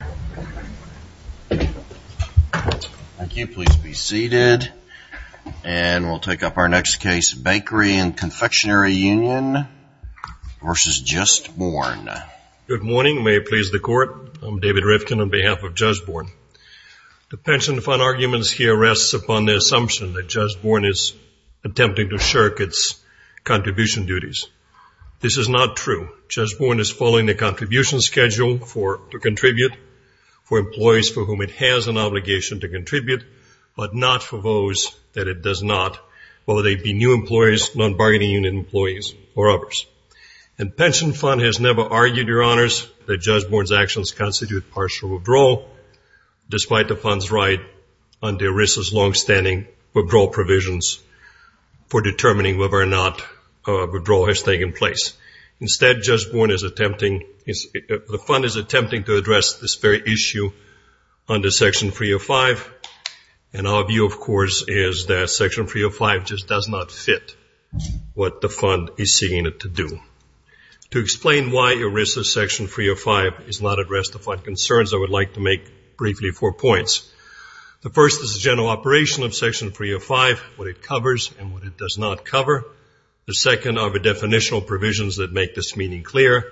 Thank you. Please be seated. And we'll take up our next case, Bakery and Confectionary Union v. Just Born. Good morning. May it please the Court, I'm David Rifkin on behalf of Just Born. The pension fund arguments here rests upon the assumption that Just Born is attempting to shirk its contribution duties. This is not true. Just Born is attempting to shirk its contributions for employees for whom it has an obligation to contribute, but not for those that it does not, whether they be new employees, non-bargaining union employees, or others. The pension fund has never argued, Your Honors, that Just Born's actions constitute partial withdrawal, despite the fund's right under ERISA's longstanding withdrawal provisions for determining whether or not a withdrawal has taken place. Instead, Just Born is attempting, the fund is attempting to address this very issue under Section 305. And our view, of course, is that Section 305 just does not fit what the fund is seeking it to do. To explain why ERISA's Section 305 is not addressed to fund concerns, I would like to make briefly four points. The first is the general operation of Section 305, what it covers and what it does not cover. The second are the definitional provisions that make this meeting clear.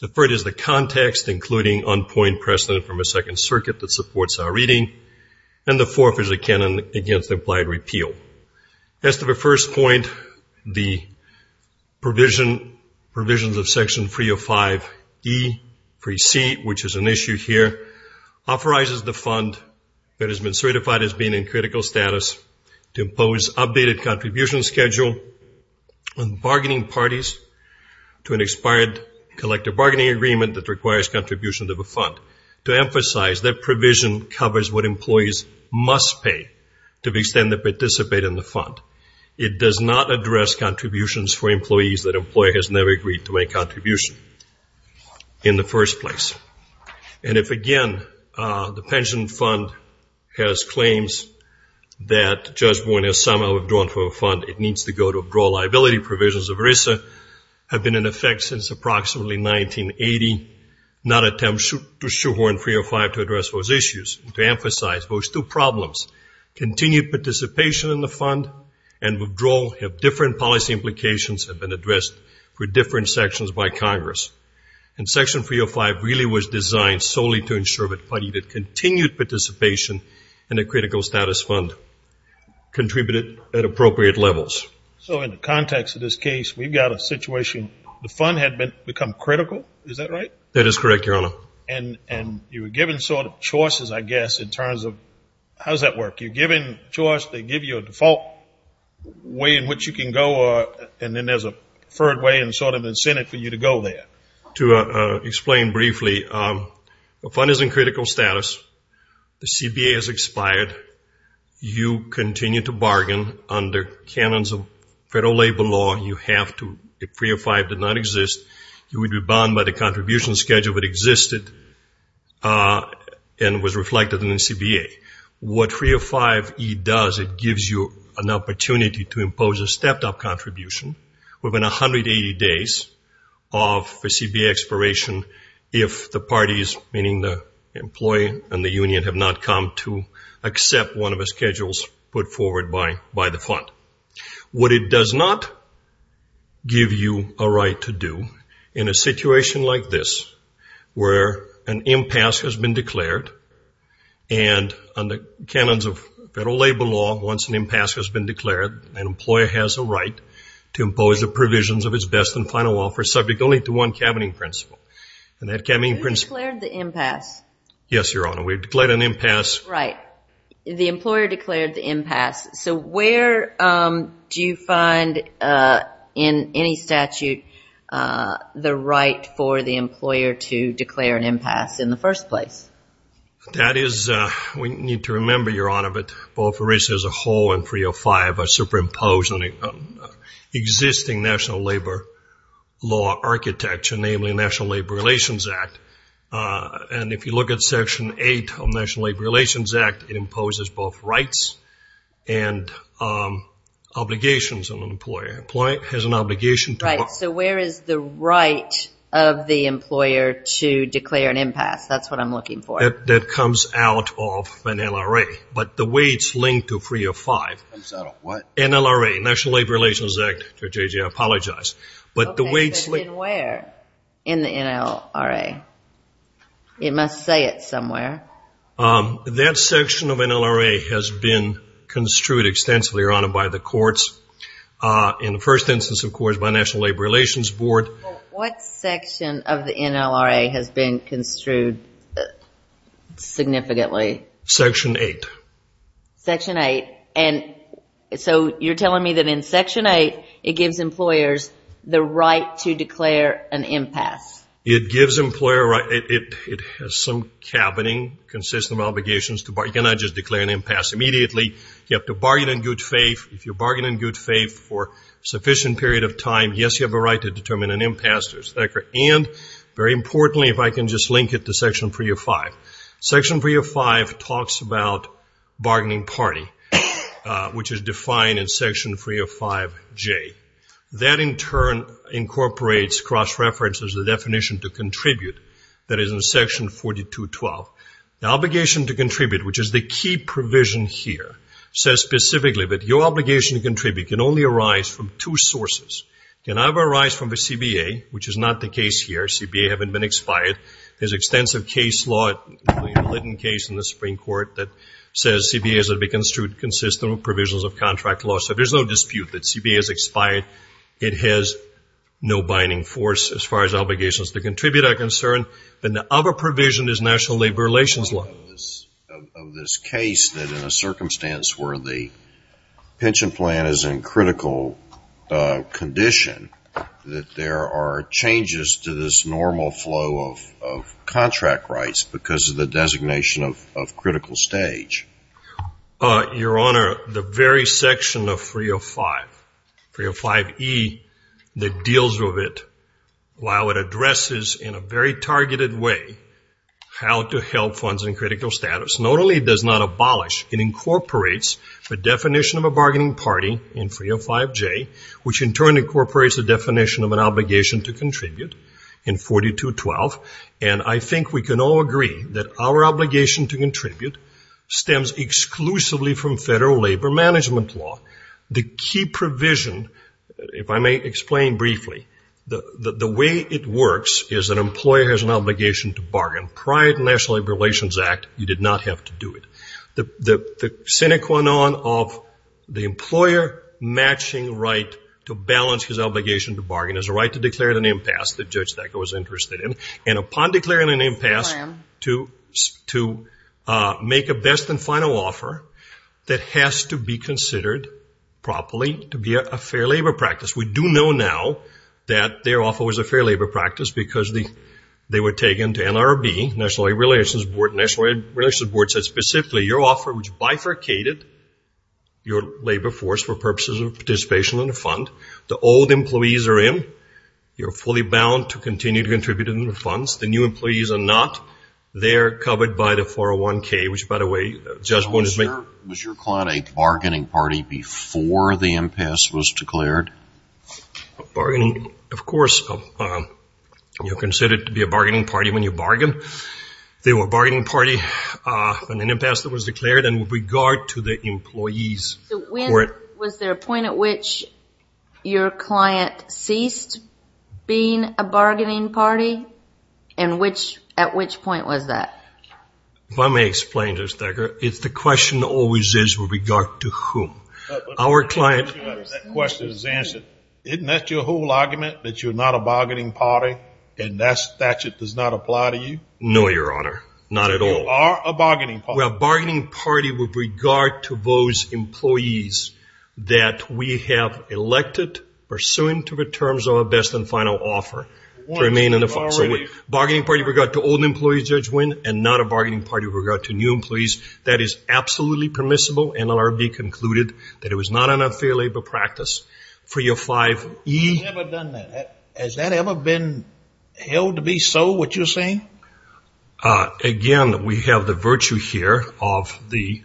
The third is the context, including on-point precedent from a Second Circuit that supports our reading. And the fourth is a canon against implied repeal. As to the first point, the provision, provisions of Section 305E-3C, which is an issue here, authorizes the fund that has been certified as being in critical status to impose updated contribution schedule on bargaining parties to an expired collective bargaining agreement that requires contributions of a fund. To emphasize, that provision covers what employees must pay to be extended to participate in the fund. It does not address contributions for employees that an employer has never agreed to make a contribution in the first place. And if, again, the pension fund has claims that Judge Boone has somehow withdrawn from the fund, it needs to go to withdrawal liability provisions of ERISA have been in effect since approximately 1980. Not attempt to shoehorn 305 to address those issues. To emphasize, those two problems, continued participation in the fund and withdrawal have different policy implications have been addressed for different sections by Congress. In Section 305 really was designed solely to ensure that continued participation in a critical status fund contributed at appropriate levels. So in the context of this case, we've got a situation, the fund had become critical, is that right? That is correct, Your Honor. And you were given sort of choices, I guess, in terms of, how does that work? You're given choice, they give you a default way in which you can go, and then there's a preferred way and sort of incentive for you to go there. To explain briefly, the fund is in critical status, the CBA has expired, you continue to bargain under canons of federal labor law, you have to, if 305 did not exist, you would be bound by the contribution schedule that existed and was reflected in the CBA. What 305E does, it gives you an opportunity to have two days of CBA expiration if the parties, meaning the employee and the union, have not come to accept one of the schedules put forward by the fund. What it does not give you a right to do in a situation like this, where an impasse has been declared and under canons of federal labor law, once an impasse has been declared, an employer has a right to impose the provisions of its best and final offer subject only to one cabinet principle, and that cabinet principle... Who declared the impasse? Yes, Your Honor, we've declared an impasse... Right, the employer declared the impasse, so where do you find in any statute the right for the employer to declare an impasse in the first place? That is, we need to remember, Your Honor, that both ERISA as a whole and 305 are superimposed on existing national labor law architecture, namely National Labor Relations Act, and if you look at Section 8 of National Labor Relations Act, it imposes both rights and obligations on an employer. An employer has an obligation to... Right, so where is the right of the employer to declare an impasse? That's what I'm looking for. That comes out of an NLRA, but the way it's linked to 305... Comes out of what? NLRA, National Labor Relations Act. Judge Ajay, I apologize, but the way it's... Okay, but then where in the NLRA? It must say it somewhere. That section of NLRA has been construed extensively, Your Honor, by the courts. In the first instance, of course, by National Labor Relations Board. What section of the NLRA has been construed significantly? Section 8. Section 8, and so you're telling me that in Section 8, it gives employers the right to declare an impasse? It gives employer... It has some cabining, consistent obligations to... You cannot just declare an impasse immediately. You have to bargain in good faith. If you bargain in good faith, you have time. Yes, you have a right to determine an impasse, and very importantly, if I can just link it to Section 305. Section 305 talks about bargaining party, which is defined in Section 305J. That, in turn, incorporates, cross-references the definition to contribute that is in Section 4212. The obligation to contribute, which is the key provision here, says specifically that your can have a rise from the CBA, which is not the case here. CBA haven't been expired. There's extensive case law, the Linton case in the Supreme Court, that says CBA has to be construed consistent with provisions of contract law, so there's no dispute that CBA is expired. It has no binding force as far as obligations to contribute are concerned. Then the other provision is National Labor Relations Law. I know of this case that in a circumstance where the pension plan is in critical condition, that there are changes to this normal flow of contract rights because of the designation of critical stage. Your Honor, the very section of 305, 305E, that deals with it, while it addresses in a very targeted way how to help funds in critical status, not only does not abolish, it incorporates the definition of a bargaining party in 305J, which in turn incorporates the definition of an obligation to contribute in 4212, and I think we can all agree that our obligation to contribute stems exclusively from federal labor management law. The key provision, if I may explain briefly, the way it works is an employer has an obligation to bargain. Prior to the National Labor Relations Act, you did not have to do it. The sine qua non of the employer matching right to balance his obligation to bargain is a right to declare an impasse that Judge Decker was interested in, and upon declaring an impasse to make a best and final offer that has to be considered properly to be a fair labor practice. We do know now that their offer was a fair labor practice because they were taken to NRB, National Labor Relations Board, and the National Labor Relations Board said specifically your offer bifurcated your labor force for purposes of participation in a fund. The old employees are in. You are fully bound to continue to contribute in the funds. The new employees are not. They are covered by the 401K, which, by the way, Judge Boone is making. Was your client a bargaining party before the impasse was declared? Of course you are considered to be a bargaining party when you bargain. They were a bargaining party when an impasse was declared in regard to the employees. Was there a point at which your client ceased being a bargaining party, and at which point was that? If I may explain, Judge Decker, it's the question always is with regard to whom. Our client That question is answered. Isn't that your whole argument, that you're not a bargaining party, and that statute does not apply to you? No, Your Honor. Not at all. So you are a bargaining party. We are a bargaining party with regard to those employees that we have elected, pursuant to the terms of a best and final offer, to remain in the funds. So a bargaining party with regard to old employees, Judge Wynn, and not a bargaining party with regard to new employees, that is absolutely permissible. NLRB concluded that it was not an unfair labor practice for your 5E. Has that ever been held to be so, what you're saying? Again, we have the virtue here of the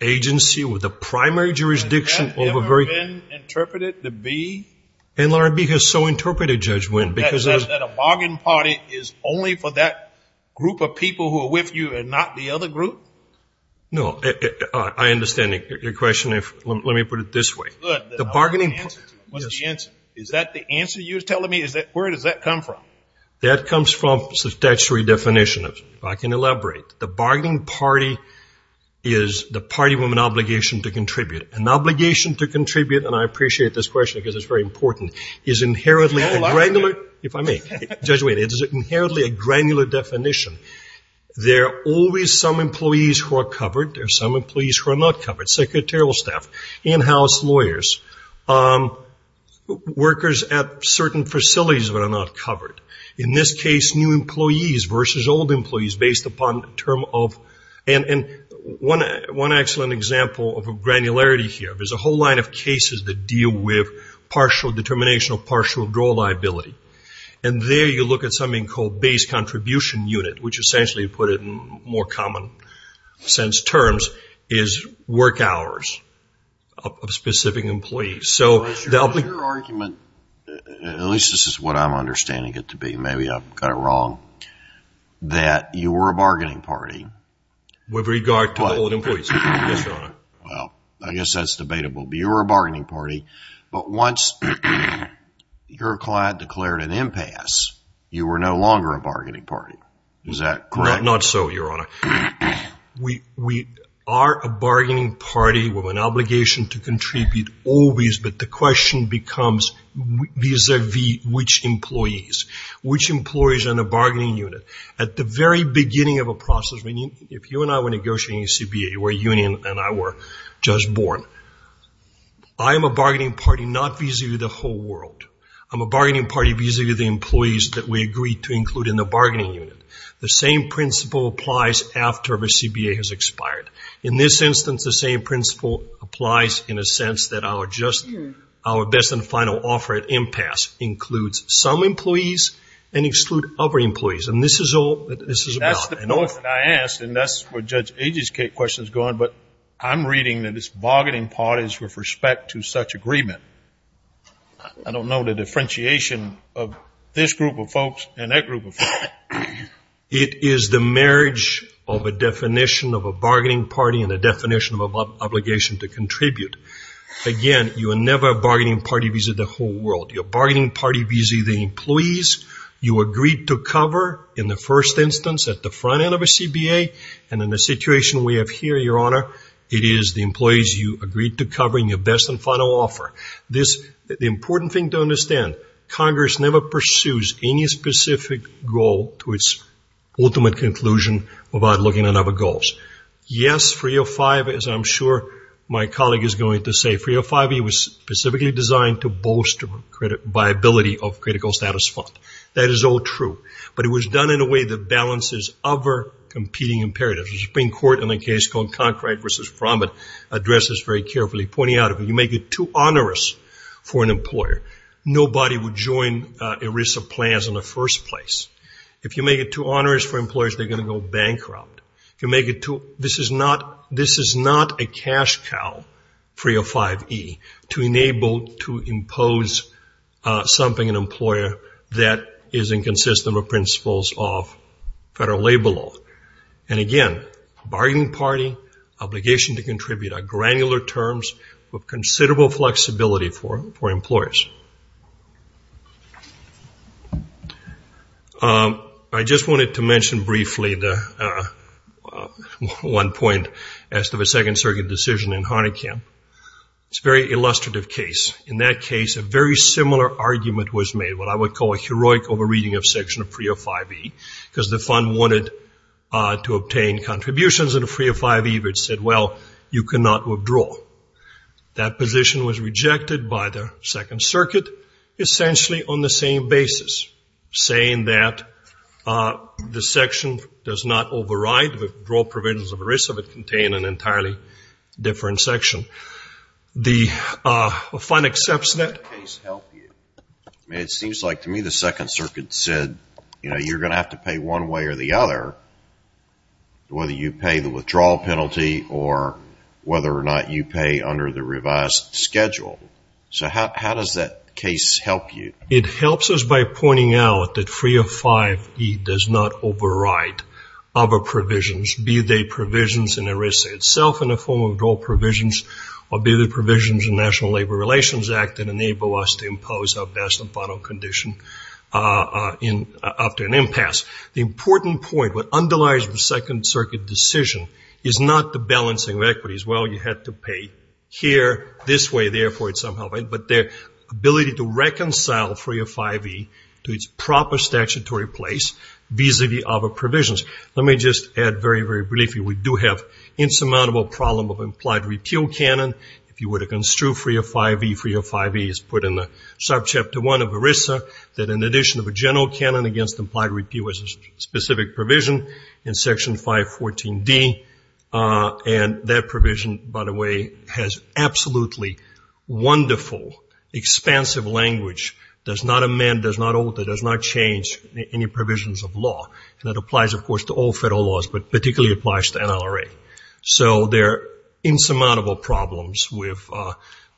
agency with the primary jurisdiction over very Has that ever been interpreted to be NLRB has so interpreted, Judge Wynn, because That a bargaining party is only for that group of people who are with you and not the other group? No. I understand your question. Let me put it this way. The bargaining What's the answer? Is that the answer you're telling me? Where does that come from? That comes from statutory definition. If I can elaborate, the bargaining party is the party with an obligation to contribute. An obligation to contribute, and I appreciate this question because it's very important, is inherently a granular, if I may, Judge Wynn, it is inherently a granular definition. There are always some employees who are covered. There are some employees who are not covered, secretarial staff, in-house lawyers, workers at certain facilities that are not covered. In this case, new employees versus old employees based upon the term of, and one excellent example of granularity here, there's a whole line of cases that deal with partial determination of partial withdrawal liability, and there you look at something called base contribution unit, which essentially, to put it in more common sense terms, is work hours of specific employees. Your argument, at least this is what I'm understanding it to be, maybe I've got it wrong, that you were a bargaining party. With regard to old employees, yes, Your Honor. Well, I guess that's debatable. You were a bargaining party, but once your client declared an impasse, you were no longer a bargaining party. Is that correct? Not so, Your Honor. We are a bargaining party with an obligation to contribute always, but the question becomes vis-a-vis which employees. Which employees are in a bargaining unit? At the very beginning of a process, if you and I were negotiating a CBA, where Union and I were just born, I am a bargaining party not vis-a-vis the whole world. I'm a bargaining party vis-a-vis the employees that we agreed to include in the bargaining unit. The same principle applies after a CBA has expired. In this instance, the same principle applies in a sense that our best and final offer at impasse includes some employees and excludes other employees, and this is all that this is about. I know what I asked, and that's where Judge Agee's question is going, but I'm reading that it's bargaining parties with respect to such agreement. I don't know the differentiation of this group of folks and that group of folks. It is the marriage of a definition of a bargaining party and a definition of an obligation to contribute. Again, you are never a bargaining party vis-a-vis the whole world. You're a in the first instance at the front end of a CBA, and in the situation we have here, Your Honor, it is the employees you agreed to cover in your best and final offer. The important thing to understand, Congress never pursues any specific goal to its ultimate conclusion without looking at other goals. Yes, 305, as I'm sure my colleague is going to say, 305E was specifically designed to bolster viability of critical status fund. That is all true, but it was done in a way that balances other competing imperatives. The Supreme Court in a case called Concrete v. Frommit addressed this very carefully, pointing out if you make it too onerous for an employer, nobody would join ERISA plans in the first place. If you make it too onerous for employers, they're going to go bankrupt. If you make it too, this is not a cash cow, 305E, to enable to impose something an employer that is inconsistent with principles of federal labor law. Again, bargaining party, obligation to contribute are granular terms with considerable flexibility for employers. I just wanted to mention briefly one point as to the Second Circuit decision in Harnikin. It's a very illustrative case. In that case, a very similar argument was made, what I would call a heroic over-reading of Section 305E, because the fund wanted to obtain contributions to 305E, but it said, well, you cannot withdraw. That position was rejected by the Second Circuit, essentially on the same basis, saying that the section does not override withdrawal provisions of ERISA, but contain an entirely different section. The fund accepts that. It seems like to me the Second Circuit said, you're going to have to pay one way or the other, whether you pay the withdrawal penalty or whether or not you pay under the revised schedule. So how does that case help you? It helps us by pointing out that 305E does not override other provisions, be they provisions in ERISA itself in the form of withdrawal provisions, or be they provisions in the National Labor Relations Act that enable us to impose our best and final condition after an impasse. The important point, what underlies the Second Circuit decision is not the balancing of equities. Well, you had to pay here this way, therefore it's somehow right, but their ability to reconcile 305E to its proper statutory place vis-a-vis other provisions. Let me just add very, very briefly, we do have insurmountable problem of implied repeal canon. If you were to construe 305E, 305E is put in the subchapter one of ERISA, that is an addition of a general canon against implied repeal as a specific provision in Section 514D. That provision, by the way, has absolutely wonderful, expansive language, does not amend, does not alter, does not change any provisions of law. That applies, of course, to all federal laws, but particularly applies to NLRA. So there are insurmountable problems with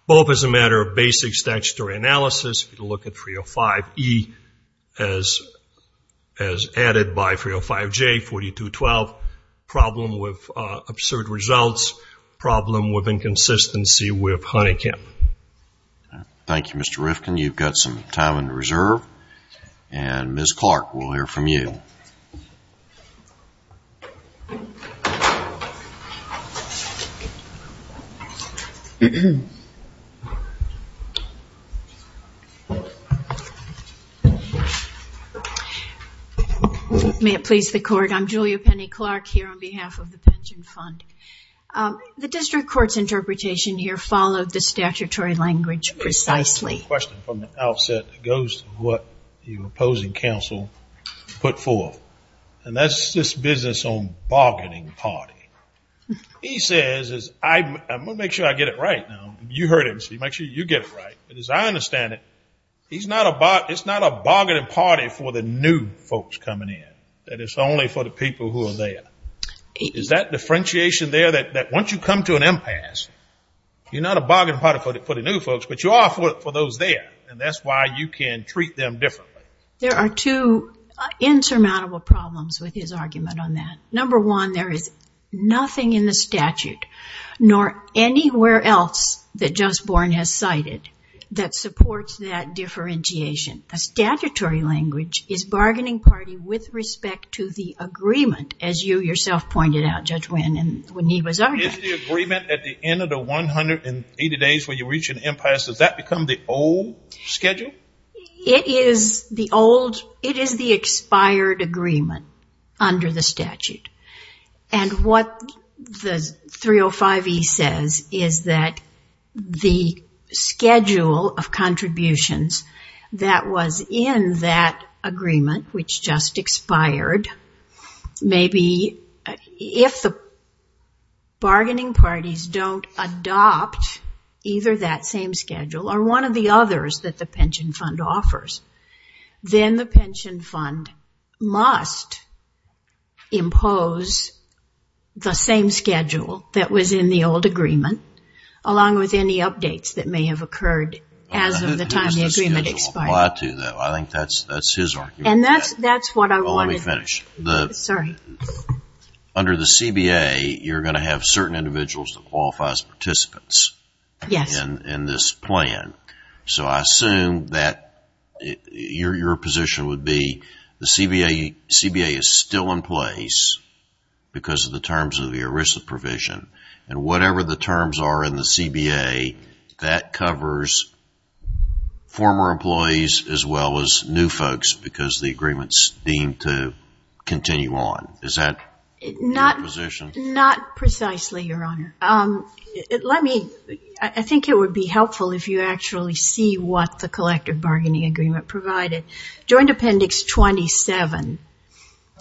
both as a matter of basic statutory analysis, if you look at 305E as added by 305J, 4212, problem with absurd results, problem with inconsistency with honeycomb. Thank you, Mr. Rifkin. You've got some time on the reserve, and Ms. Clark, we'll hear from you. May it please the court, I'm Julia Penny Clark here on behalf of the Pension Fund. The district court's interpretation here followed the statutory language precisely. I have a question from the outset that goes to what your opposing counsel put forth, and that's this business on bargaining party. He says, I'm going to make sure I get it right now. You heard him, so you make sure you get it right. As I understand it, it's not a bargaining party for the new folks coming in, that it's only for the people who are there. Is that differentiation there, that once you come to an impasse, you're not a bargaining party for the new folks, but you are for those there, and that's why you can treat them differently? There are two insurmountable problems with his argument on that. Number one, there is anywhere else that Justborn has cited that supports that differentiation. The statutory language is bargaining party with respect to the agreement, as you yourself pointed out, Judge Winn, when he was arguing. Is the agreement at the end of the 180 days when you reach an impasse, does that become the old schedule? It is the expired agreement under the statute, and what the 305E says is that the agreement is that the schedule of contributions that was in that agreement, which just expired, maybe if the bargaining parties don't adopt either that same schedule or one of the others that the pension fund offers, then the pension fund must impose the same schedule that was in the old agreement, along with any updates that may have occurred as of the time the Who has the schedule apply to, though? I think that's his argument. And that's what I wanted to... Let me finish. Under the CBA, you're going to have certain individuals that qualify as participants in this plan. So I assume that your position would be the CBA is still in place because of the terms of the ERISA provision, and whatever the terms are in the CBA, that covers former employees as well as new folks because the agreement's deemed to continue on. Is that your position? Not precisely, Your Honor. I think it would be helpful if you actually see what the collective bargaining agreement provided. Joint Appendix 27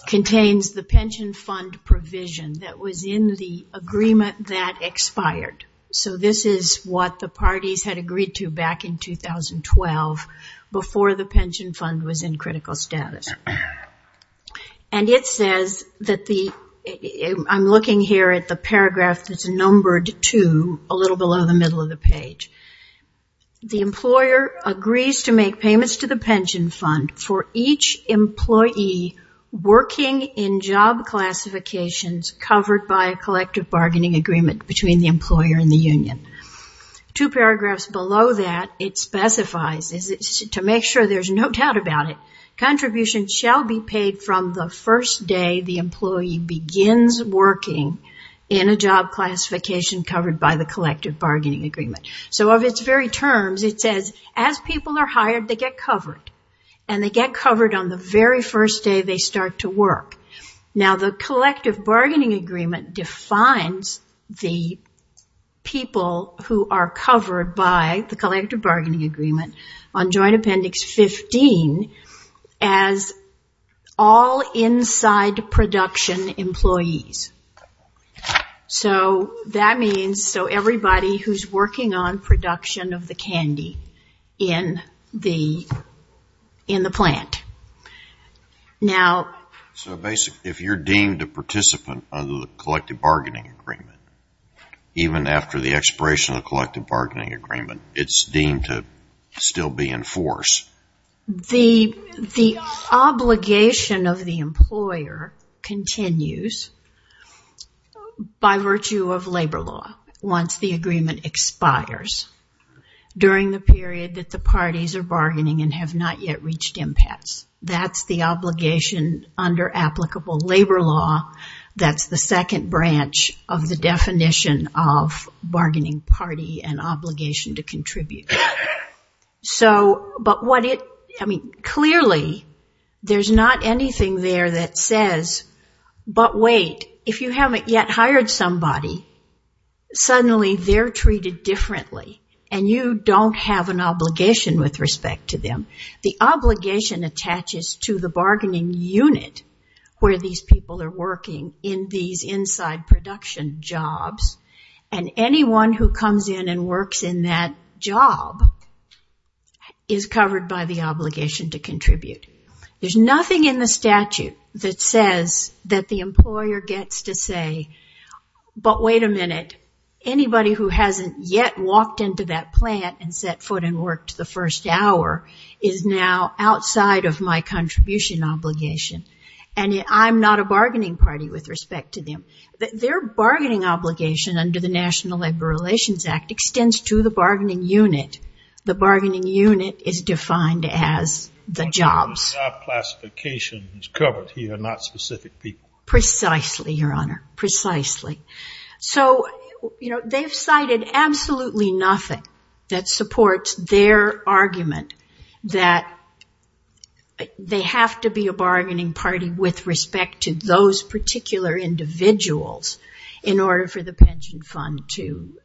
contains the pension fund provision that was in the agreement that expired. So this is what the parties had agreed to back in 2012 before the pension fund was in critical status. And it says that the... I'm looking here at the paragraph that's numbered two, a little below the middle of the page. The employer agrees to make payments to the pension fund for each employee working in job classifications covered by a collective bargaining agreement between the employer and the union. Two paragraphs below that, it specifies to make sure there's no doubt about it, contributions shall be paid from the first day the employee begins working in a job classification covered by the collective bargaining agreement. So of its very terms, it says as people are hired, they get covered. And they get covered on the very first day they start to work. Now the collective bargaining agreement defines the people who are covered by the collective bargaining agreement on Joint Appendix 15 as all inside production employees. So that means, so everybody who's working on production of the candy in the plant. So basically, if you're deemed a participant under the collective bargaining agreement, even after the expiration of the collective bargaining agreement, it's deemed to still be in force. The obligation of the employer continues by virtue of labor law once the agreement expires during the period that the parties are bargaining and have not yet reached impasse. That's the obligation under applicable labor law. That's the second branch of the definition of bargaining party and obligation to contribute. But what it, I mean, clearly there's not anything there that says, but wait, if you haven't yet hired somebody, suddenly they're treated differently and you don't have an obligation with respect to them. The obligation attaches to the bargaining unit where these people are working in these inside production jobs and anyone who comes in and works in that job is covered by the obligation to contribute. There's nothing in the statute that says that the employer gets to say, but wait a minute, anybody who hasn't yet walked into that plant and set foot and worked the first hour is now outside of my contribution obligation and I'm not a bargaining party with respect to them. Their bargaining obligation under the National Labor Relations Act extends to the bargaining unit. The bargaining unit is defined as the jobs. The job classification is covered here, not specific people. Precisely, Your Honor. Precisely. So, you know, they've cited absolutely nothing that they have to be a bargaining party with respect to those particular individuals in order for the pension fund to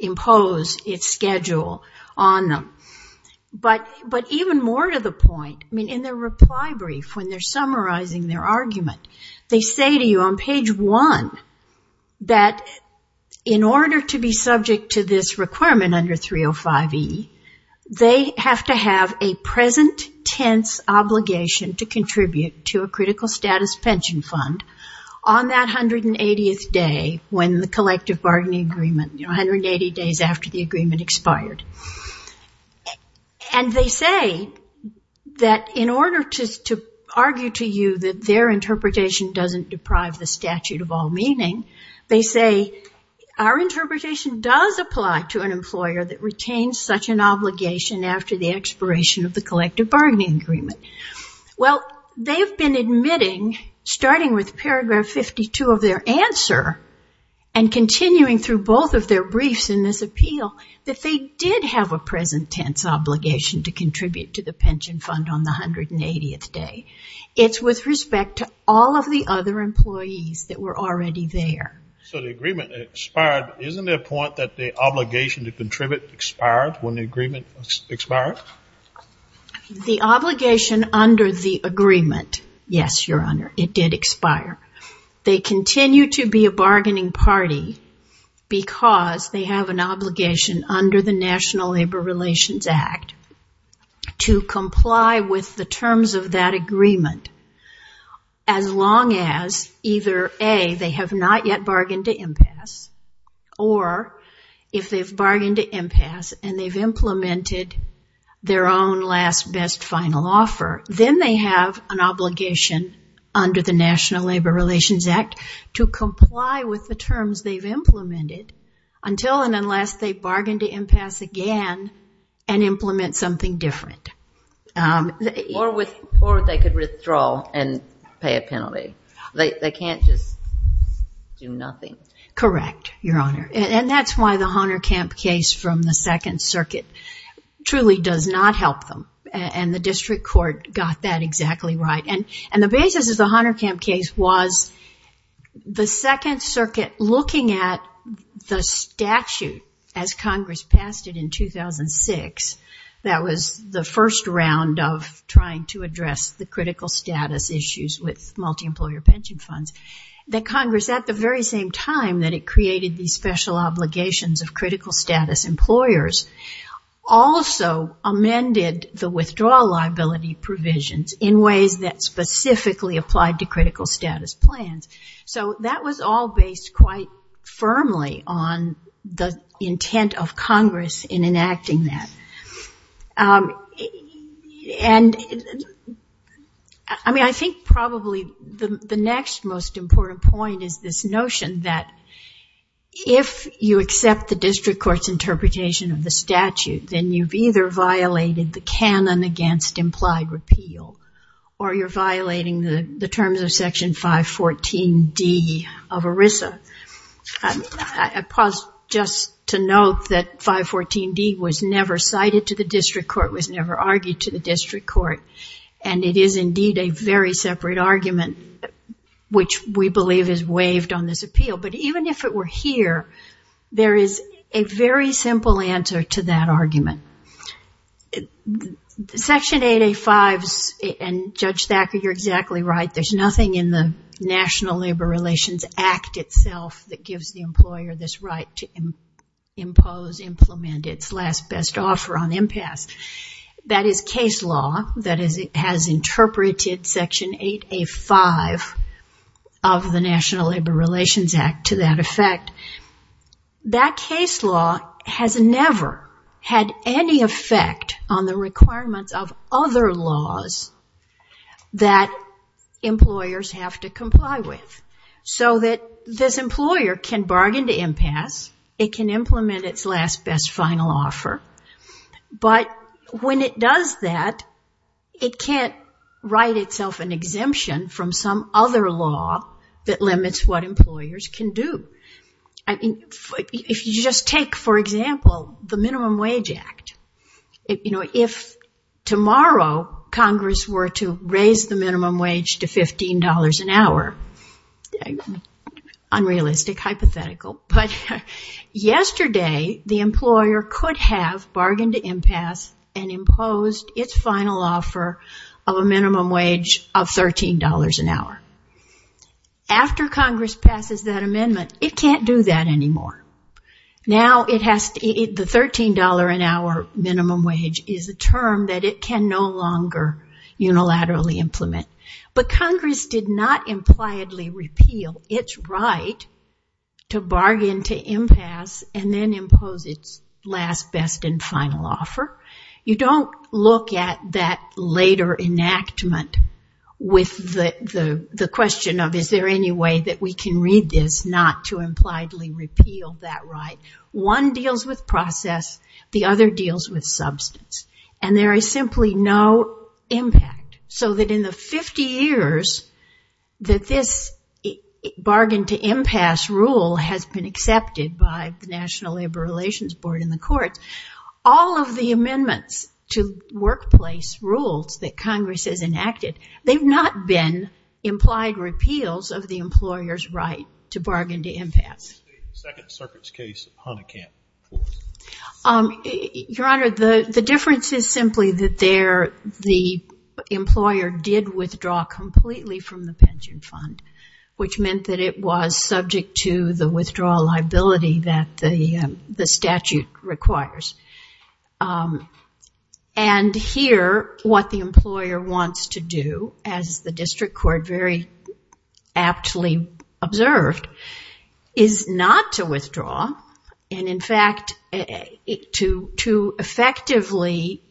impose its schedule on them. But even more to the point, in their reply brief when they're summarizing their argument, they say to you on page one that in order to be subject to this requirement under 305E, they have to have a present tense obligation to contribute to a critical status pension fund on that 180th day when the collective bargaining agreement, you know, 180 days after the agreement expired. And they say that in order to argue to you that their interpretation doesn't deprive the statute of all meaning, they say our interpretation does apply to an employer that retains such an obligation after the expiration of the collective bargaining agreement. Well, they've been admitting, starting with paragraph 52 of their answer and continuing through both of their briefs in this appeal, that they did have a present tense obligation to contribute to the pension fund on the 180th day. It's with respect to all of the other employees that were already there. So the agreement expired. Isn't there a point that the obligation to contribute expired when the agreement expired? The obligation under the agreement, yes, Your Honor, it did expire. They continue to be a bargaining party because they have an obligation under the National Labor Relations Act to comply with the terms of that agreement as long as either A, they have not yet bargained to impasse, or if they've bargained to impasse and they've implemented their own last, best, final offer, then they have an obligation under the National Labor Relations Act to comply with the terms they've implemented until and unless they bargain to impasse again and implement something different. Or they could withdraw and pay a penalty. They can't just do nothing. Correct, Your Honor, and that's why the Hohnerkamp case from the Second Circuit truly does not help them, and the District Court got that exactly right. And the basis of the Hohnerkamp case was the Second Circuit looking at the statute as Congress passed it in 2006. That was the first round of trying to address the critical status issues with multi-employer pension funds. That Congress, at the very same time that it created these special obligations of critical status employers, also amended the withdrawal liability provisions in ways that specifically applied to critical status plans. So that was all based quite firmly on the intent of Congress in enacting that. And I mean, I think probably the next most important point is this notion that if you accept the District Court's interpretation of the statute, then you've either violated the canon against implied repeal, or you're violating the terms of Section 514D of ERISA. I pause just to note that 514D was never cited to the District Court, was never argued to the District Court, and it is indeed a very separate argument, which we believe is waived on this appeal. But even if it were here, there is a very simple answer to that argument. Section 8A5 and Judge Thacker, you're exactly right, there's nothing in the National Labor Relations Act itself that gives the employer this right to impose, implement, its last best offer on impasse. That is case law that has interpreted Section 8A5 of the National Labor Relations Act to that effect. That case law has never had any effect on the requirements of other laws that employers have to comply with. So that this employer can bargain to impasse, it can implement its last best final offer, but when it does that, it can't write itself an exemption from some other law that limits what employers can do. If you just take, for example, the Minimum Wage Act, if tomorrow Congress were to raise the minimum wage to $15 an hour, unrealistic, hypothetical, but yesterday the employer could have bargained to impasse and imposed its final offer of a minimum wage of $13 an hour. After Congress passes that amendment, it can't do that anymore. Now the $13 an hour minimum wage is a term that it can no longer unilaterally implement. But Congress did not impliedly repeal its right to bargain to impasse and then impose its last best and final offer. You don't look at that later enactment with the question of is there any way that we can read this not to impliedly repeal that right. One deals with process, the other deals with substance. And there is simply no impact. So that in the 50 years that this bargaining to impasse rule has been accepted by the National Labor Relations Board in the courts, all of the amendments to workplace rules that Congress has enacted, they've not been implied repeals of the employer's right to bargain to impasse. The second circuit's case, Hunnicant. Your Honor, the difference is simply that the employer did withdraw completely from the pension fund, which meant that it was subject to the withdrawal liability that the statute requires. And here, what the employer wants to do, as the district court very aptly observed, is not to withdraw, and in fact, to effectively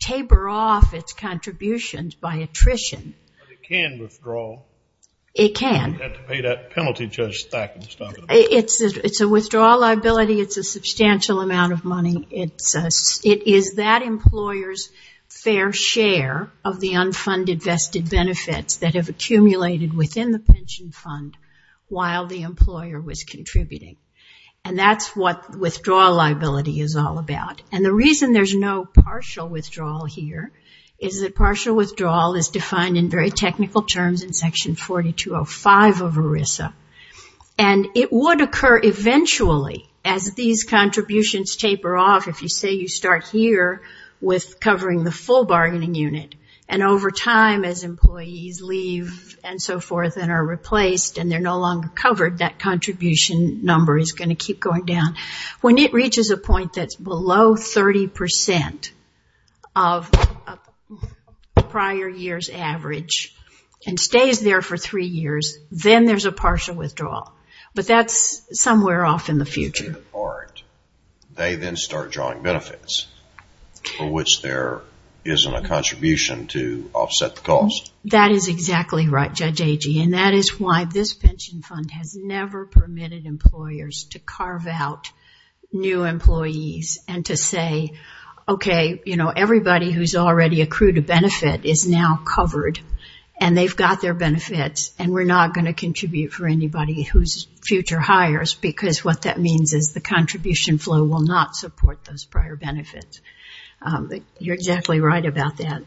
taper off its contributions by attrition. But it can withdraw. It can. You'd have to pay that penalty, Judge Thacken, to stop it. It's a withdrawal liability. It's a substantial amount of money. It is that employer's fair share of the unfunded vested benefits that have accumulated within the pension fund while the employer was contributing. And that's what withdrawal liability is all about. And the reason there's no partial withdrawal here is that partial withdrawal is defined in very technical terms in Section 4205 of ERISA. And it would occur eventually, as these contributions taper off, if you say you start here with covering the full bargaining unit, and over time, as employees leave and so forth and are replaced and they're no longer covered, that contribution number is going to keep going down. When it reaches a point that's below 30 percent of a prior year's average and stays there for three years, then there's a partial withdrawal. But that's somewhere off in the future. They then start drawing benefits, for which there isn't a contribution to offset the cost. That is exactly right, Judge Agee, and that is why this pension fund has never permitted employers to carve out new employees and to say, okay, everybody who's already accrued a benefit is now covered, and they've got their benefits, and we're not going to contribute for anybody whose future hires, because what that means is the contribution flow will not support those prior benefits. You're exactly right about that.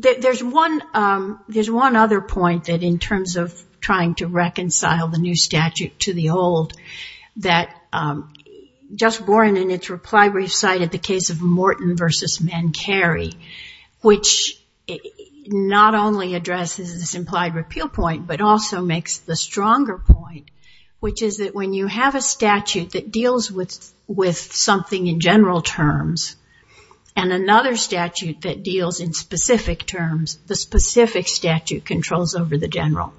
There's one other point that in terms of trying to reconcile the new statute to the old that just borne in its reply brief cited the case of Morton v. Mancari, which not only addresses this implied repeal point, but also makes the stronger point, which is that when you have a statute that deals with something in general terms and another statute that deals in specific terms, the specific statute controls over the general,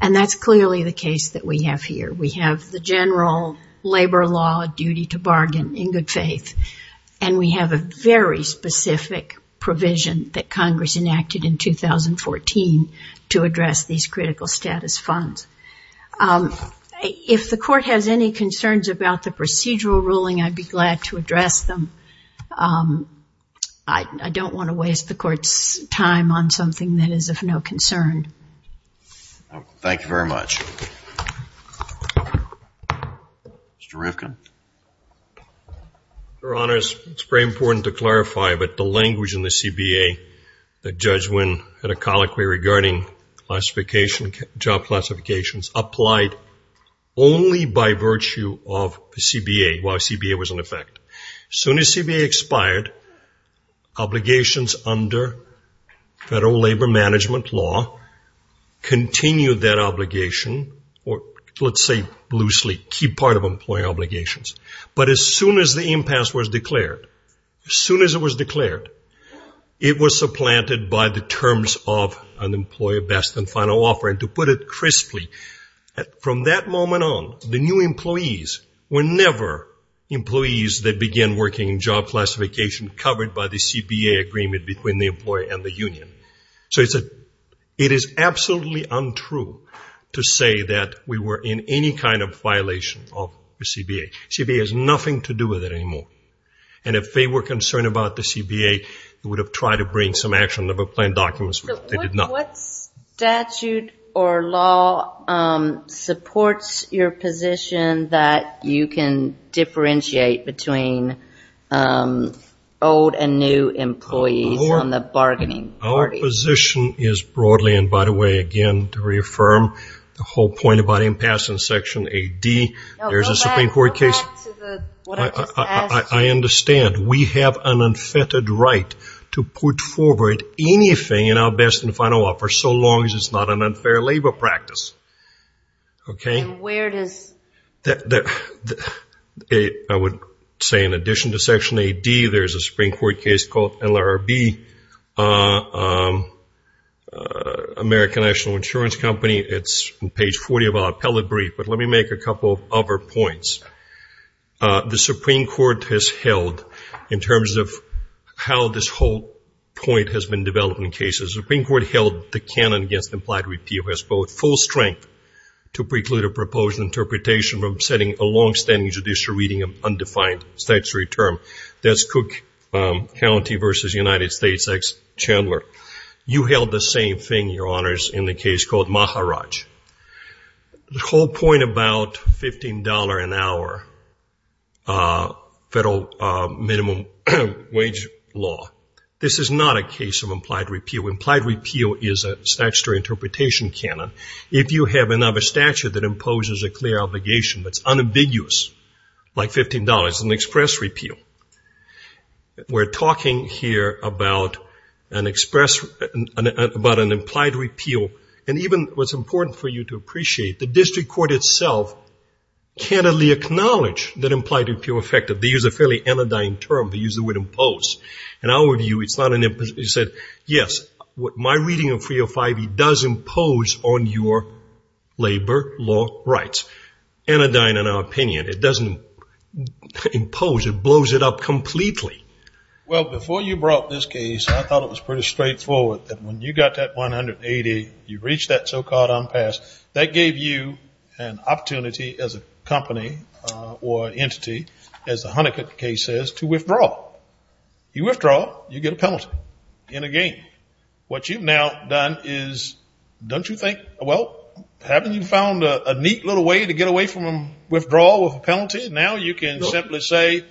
and that's clearly the case that we have here. We have the general labor law duty to bargain in good faith, and we have a very specific provision that Congress enacted in 2014 to address these critical status funds. If the court has any concerns about the procedural ruling, I'd be glad to address them. I don't want to waste the court's time on something that is of no concern. Thank you very much. Mr. Rivkin. Your Honor, it's very important to clarify, but the language in the CBA that Judge Wynn had a colloquy regarding job classifications applied only by virtue of CBA, while CBA was in effect. As soon as CBA expired, obligations under federal labor management law continued that obligation, or let's say loosely, keep part of employee obligations. But as soon as the impasse was declared, as soon as it was declared, it was supplanted by the terms of an employer best and final offer. To put it crisply, from that moment on, the new employees were never employees that began working in job classification covered by the CBA agreement between the employer and the union. It is absolutely untrue to say that we were in any kind of violation of the CBA. CBA has nothing to do with it anymore. If they were concerned about the CBA, they would have tried to bring some actual never-planned documents with them. They did not. What statute or law supports your position that you can differentiate between old and new employees on the bargaining party? Our position is broadly, and by the way, again, to reaffirm the whole point about impasse and Section 8D, there is a Supreme Court case. I understand. We have an unfettered right to put forward anything in our best and final offer so long as it is not an unfair labor practice. And where does... I would say in addition to Section 8D, there is a Supreme Court case called LRB, American National Insurance Company. It is on page 40 of our appellate brief, but let me make a couple of other points. The Supreme Court has held, in terms of how this whole point has been developed in cases, the Supreme Court held the canon against implied repeal as both full strength to preclude a proposed interpretation from setting a longstanding judicial reading of undefined statutory term. That is Cook County v. United States v. Chandler. You held the same thing, Your Honors, in the case called Maharaj. The whole point about $15 an hour federal minimum wage law, this is not a case of implied repeal. Implied repeal is a statutory interpretation canon. If you have another statute that imposes a clear obligation that is unambiguous, like $15, it is an express repeal. We're talking here about an implied repeal. And even what's important for you to appreciate, the district court itself candidly acknowledged that implied repeal effect. They used a fairly anodyne term. They used the word impose. In our view, it's not an impose. They said, yes, my reading of 305E does impose on your labor law rights. Anodyne in our opinion. It doesn't impose. It blows it up completely. Well, before you brought this case, I thought it was pretty straightforward that when you got that 180, you reached that so-called unpassed, that gave you an opportunity as a company or entity, as the Hunnicutt case says, to withdraw. You withdraw, you get a penalty in a game. What you've now done is, don't you think, well, haven't you found a neat little way to get away from withdrawal with a penalty? Now you can simply say,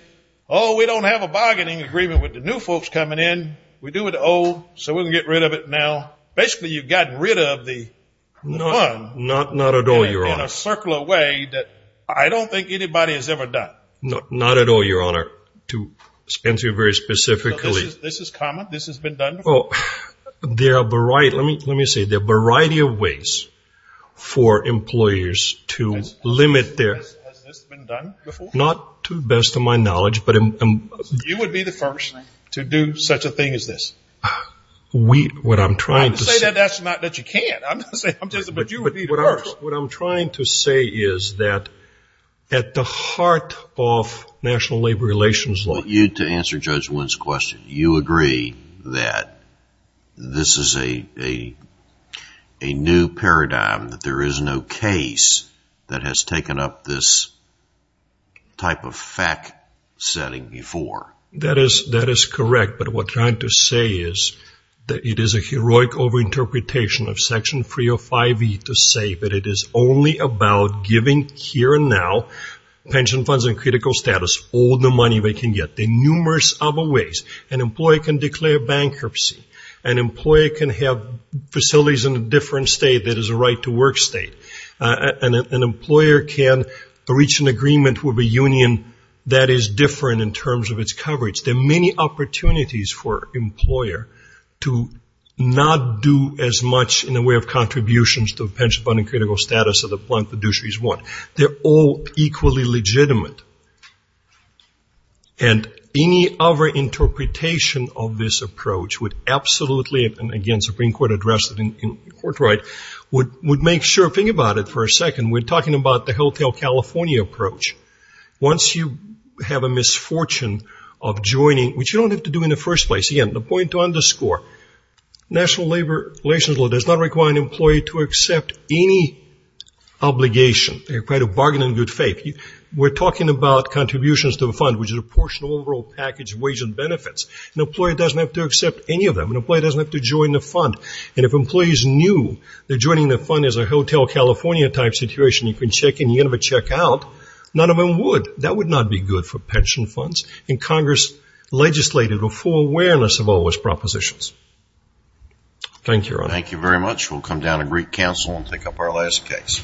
oh, we don't have a bargaining agreement with the new folks coming in. We do with the old, so we can get rid of it now. Basically, you've gotten rid of the Hun in a circular way that I don't think anybody has ever done. Not at all, your honor. To answer you very specifically. This is common. This has been done before. There are a variety, let me say, there are a variety of ways for employers to limit their... Has this been done before? Not to the best of my knowledge, but... You would be the first to do such a thing as this. What I'm trying to say... Don't say that, that's not that you can't. I'm just saying, but you would be the first. What I'm trying to say is that at the heart of national labor relations law... I want you to answer Judge Wynn's question. You agree that this is a new paradigm, that there is no case that has taken up this type of fact-setting before? That is correct, but what I'm trying to say is that it is a heroic over-interpretation of Section 305E to say that it is only about giving here and now pension funds in critical status. There are numerous other ways. An employer can declare bankruptcy. An employer can have facilities in a different state that is a right-to-work state. An employer can reach an agreement with a union that is different in terms of its coverage. There are many opportunities for an employer to not do as much in the way of contributions to the pension fund and critical status of the plan of fiduciary is one. They're all equally legitimate. Any over-interpretation of this approach would absolutely, and again Supreme Court addressed it in court right, would make sure... Think about it for a second. We're talking about the Helltale, California approach. Once you have a misfortune of joining, which you don't have to do in the first place. Again, the point to underscore, national labor relations law does not require an employee to accept any obligation. They're quite a bargain in good faith. We're talking about contributions to the fund, which is a portion of the overall package of wage and benefits. An employer doesn't have to accept any of them. An employer doesn't have to join the fund. And if employees knew that joining the fund is a Helltale, California type situation, you can check in, you can never check out, none of them would. That would not be good for pension funds. And Congress legislated a full awareness of all those propositions. Thank you, Your Honor. Thank you very much. We'll come down to Greek Council and pick up our last case.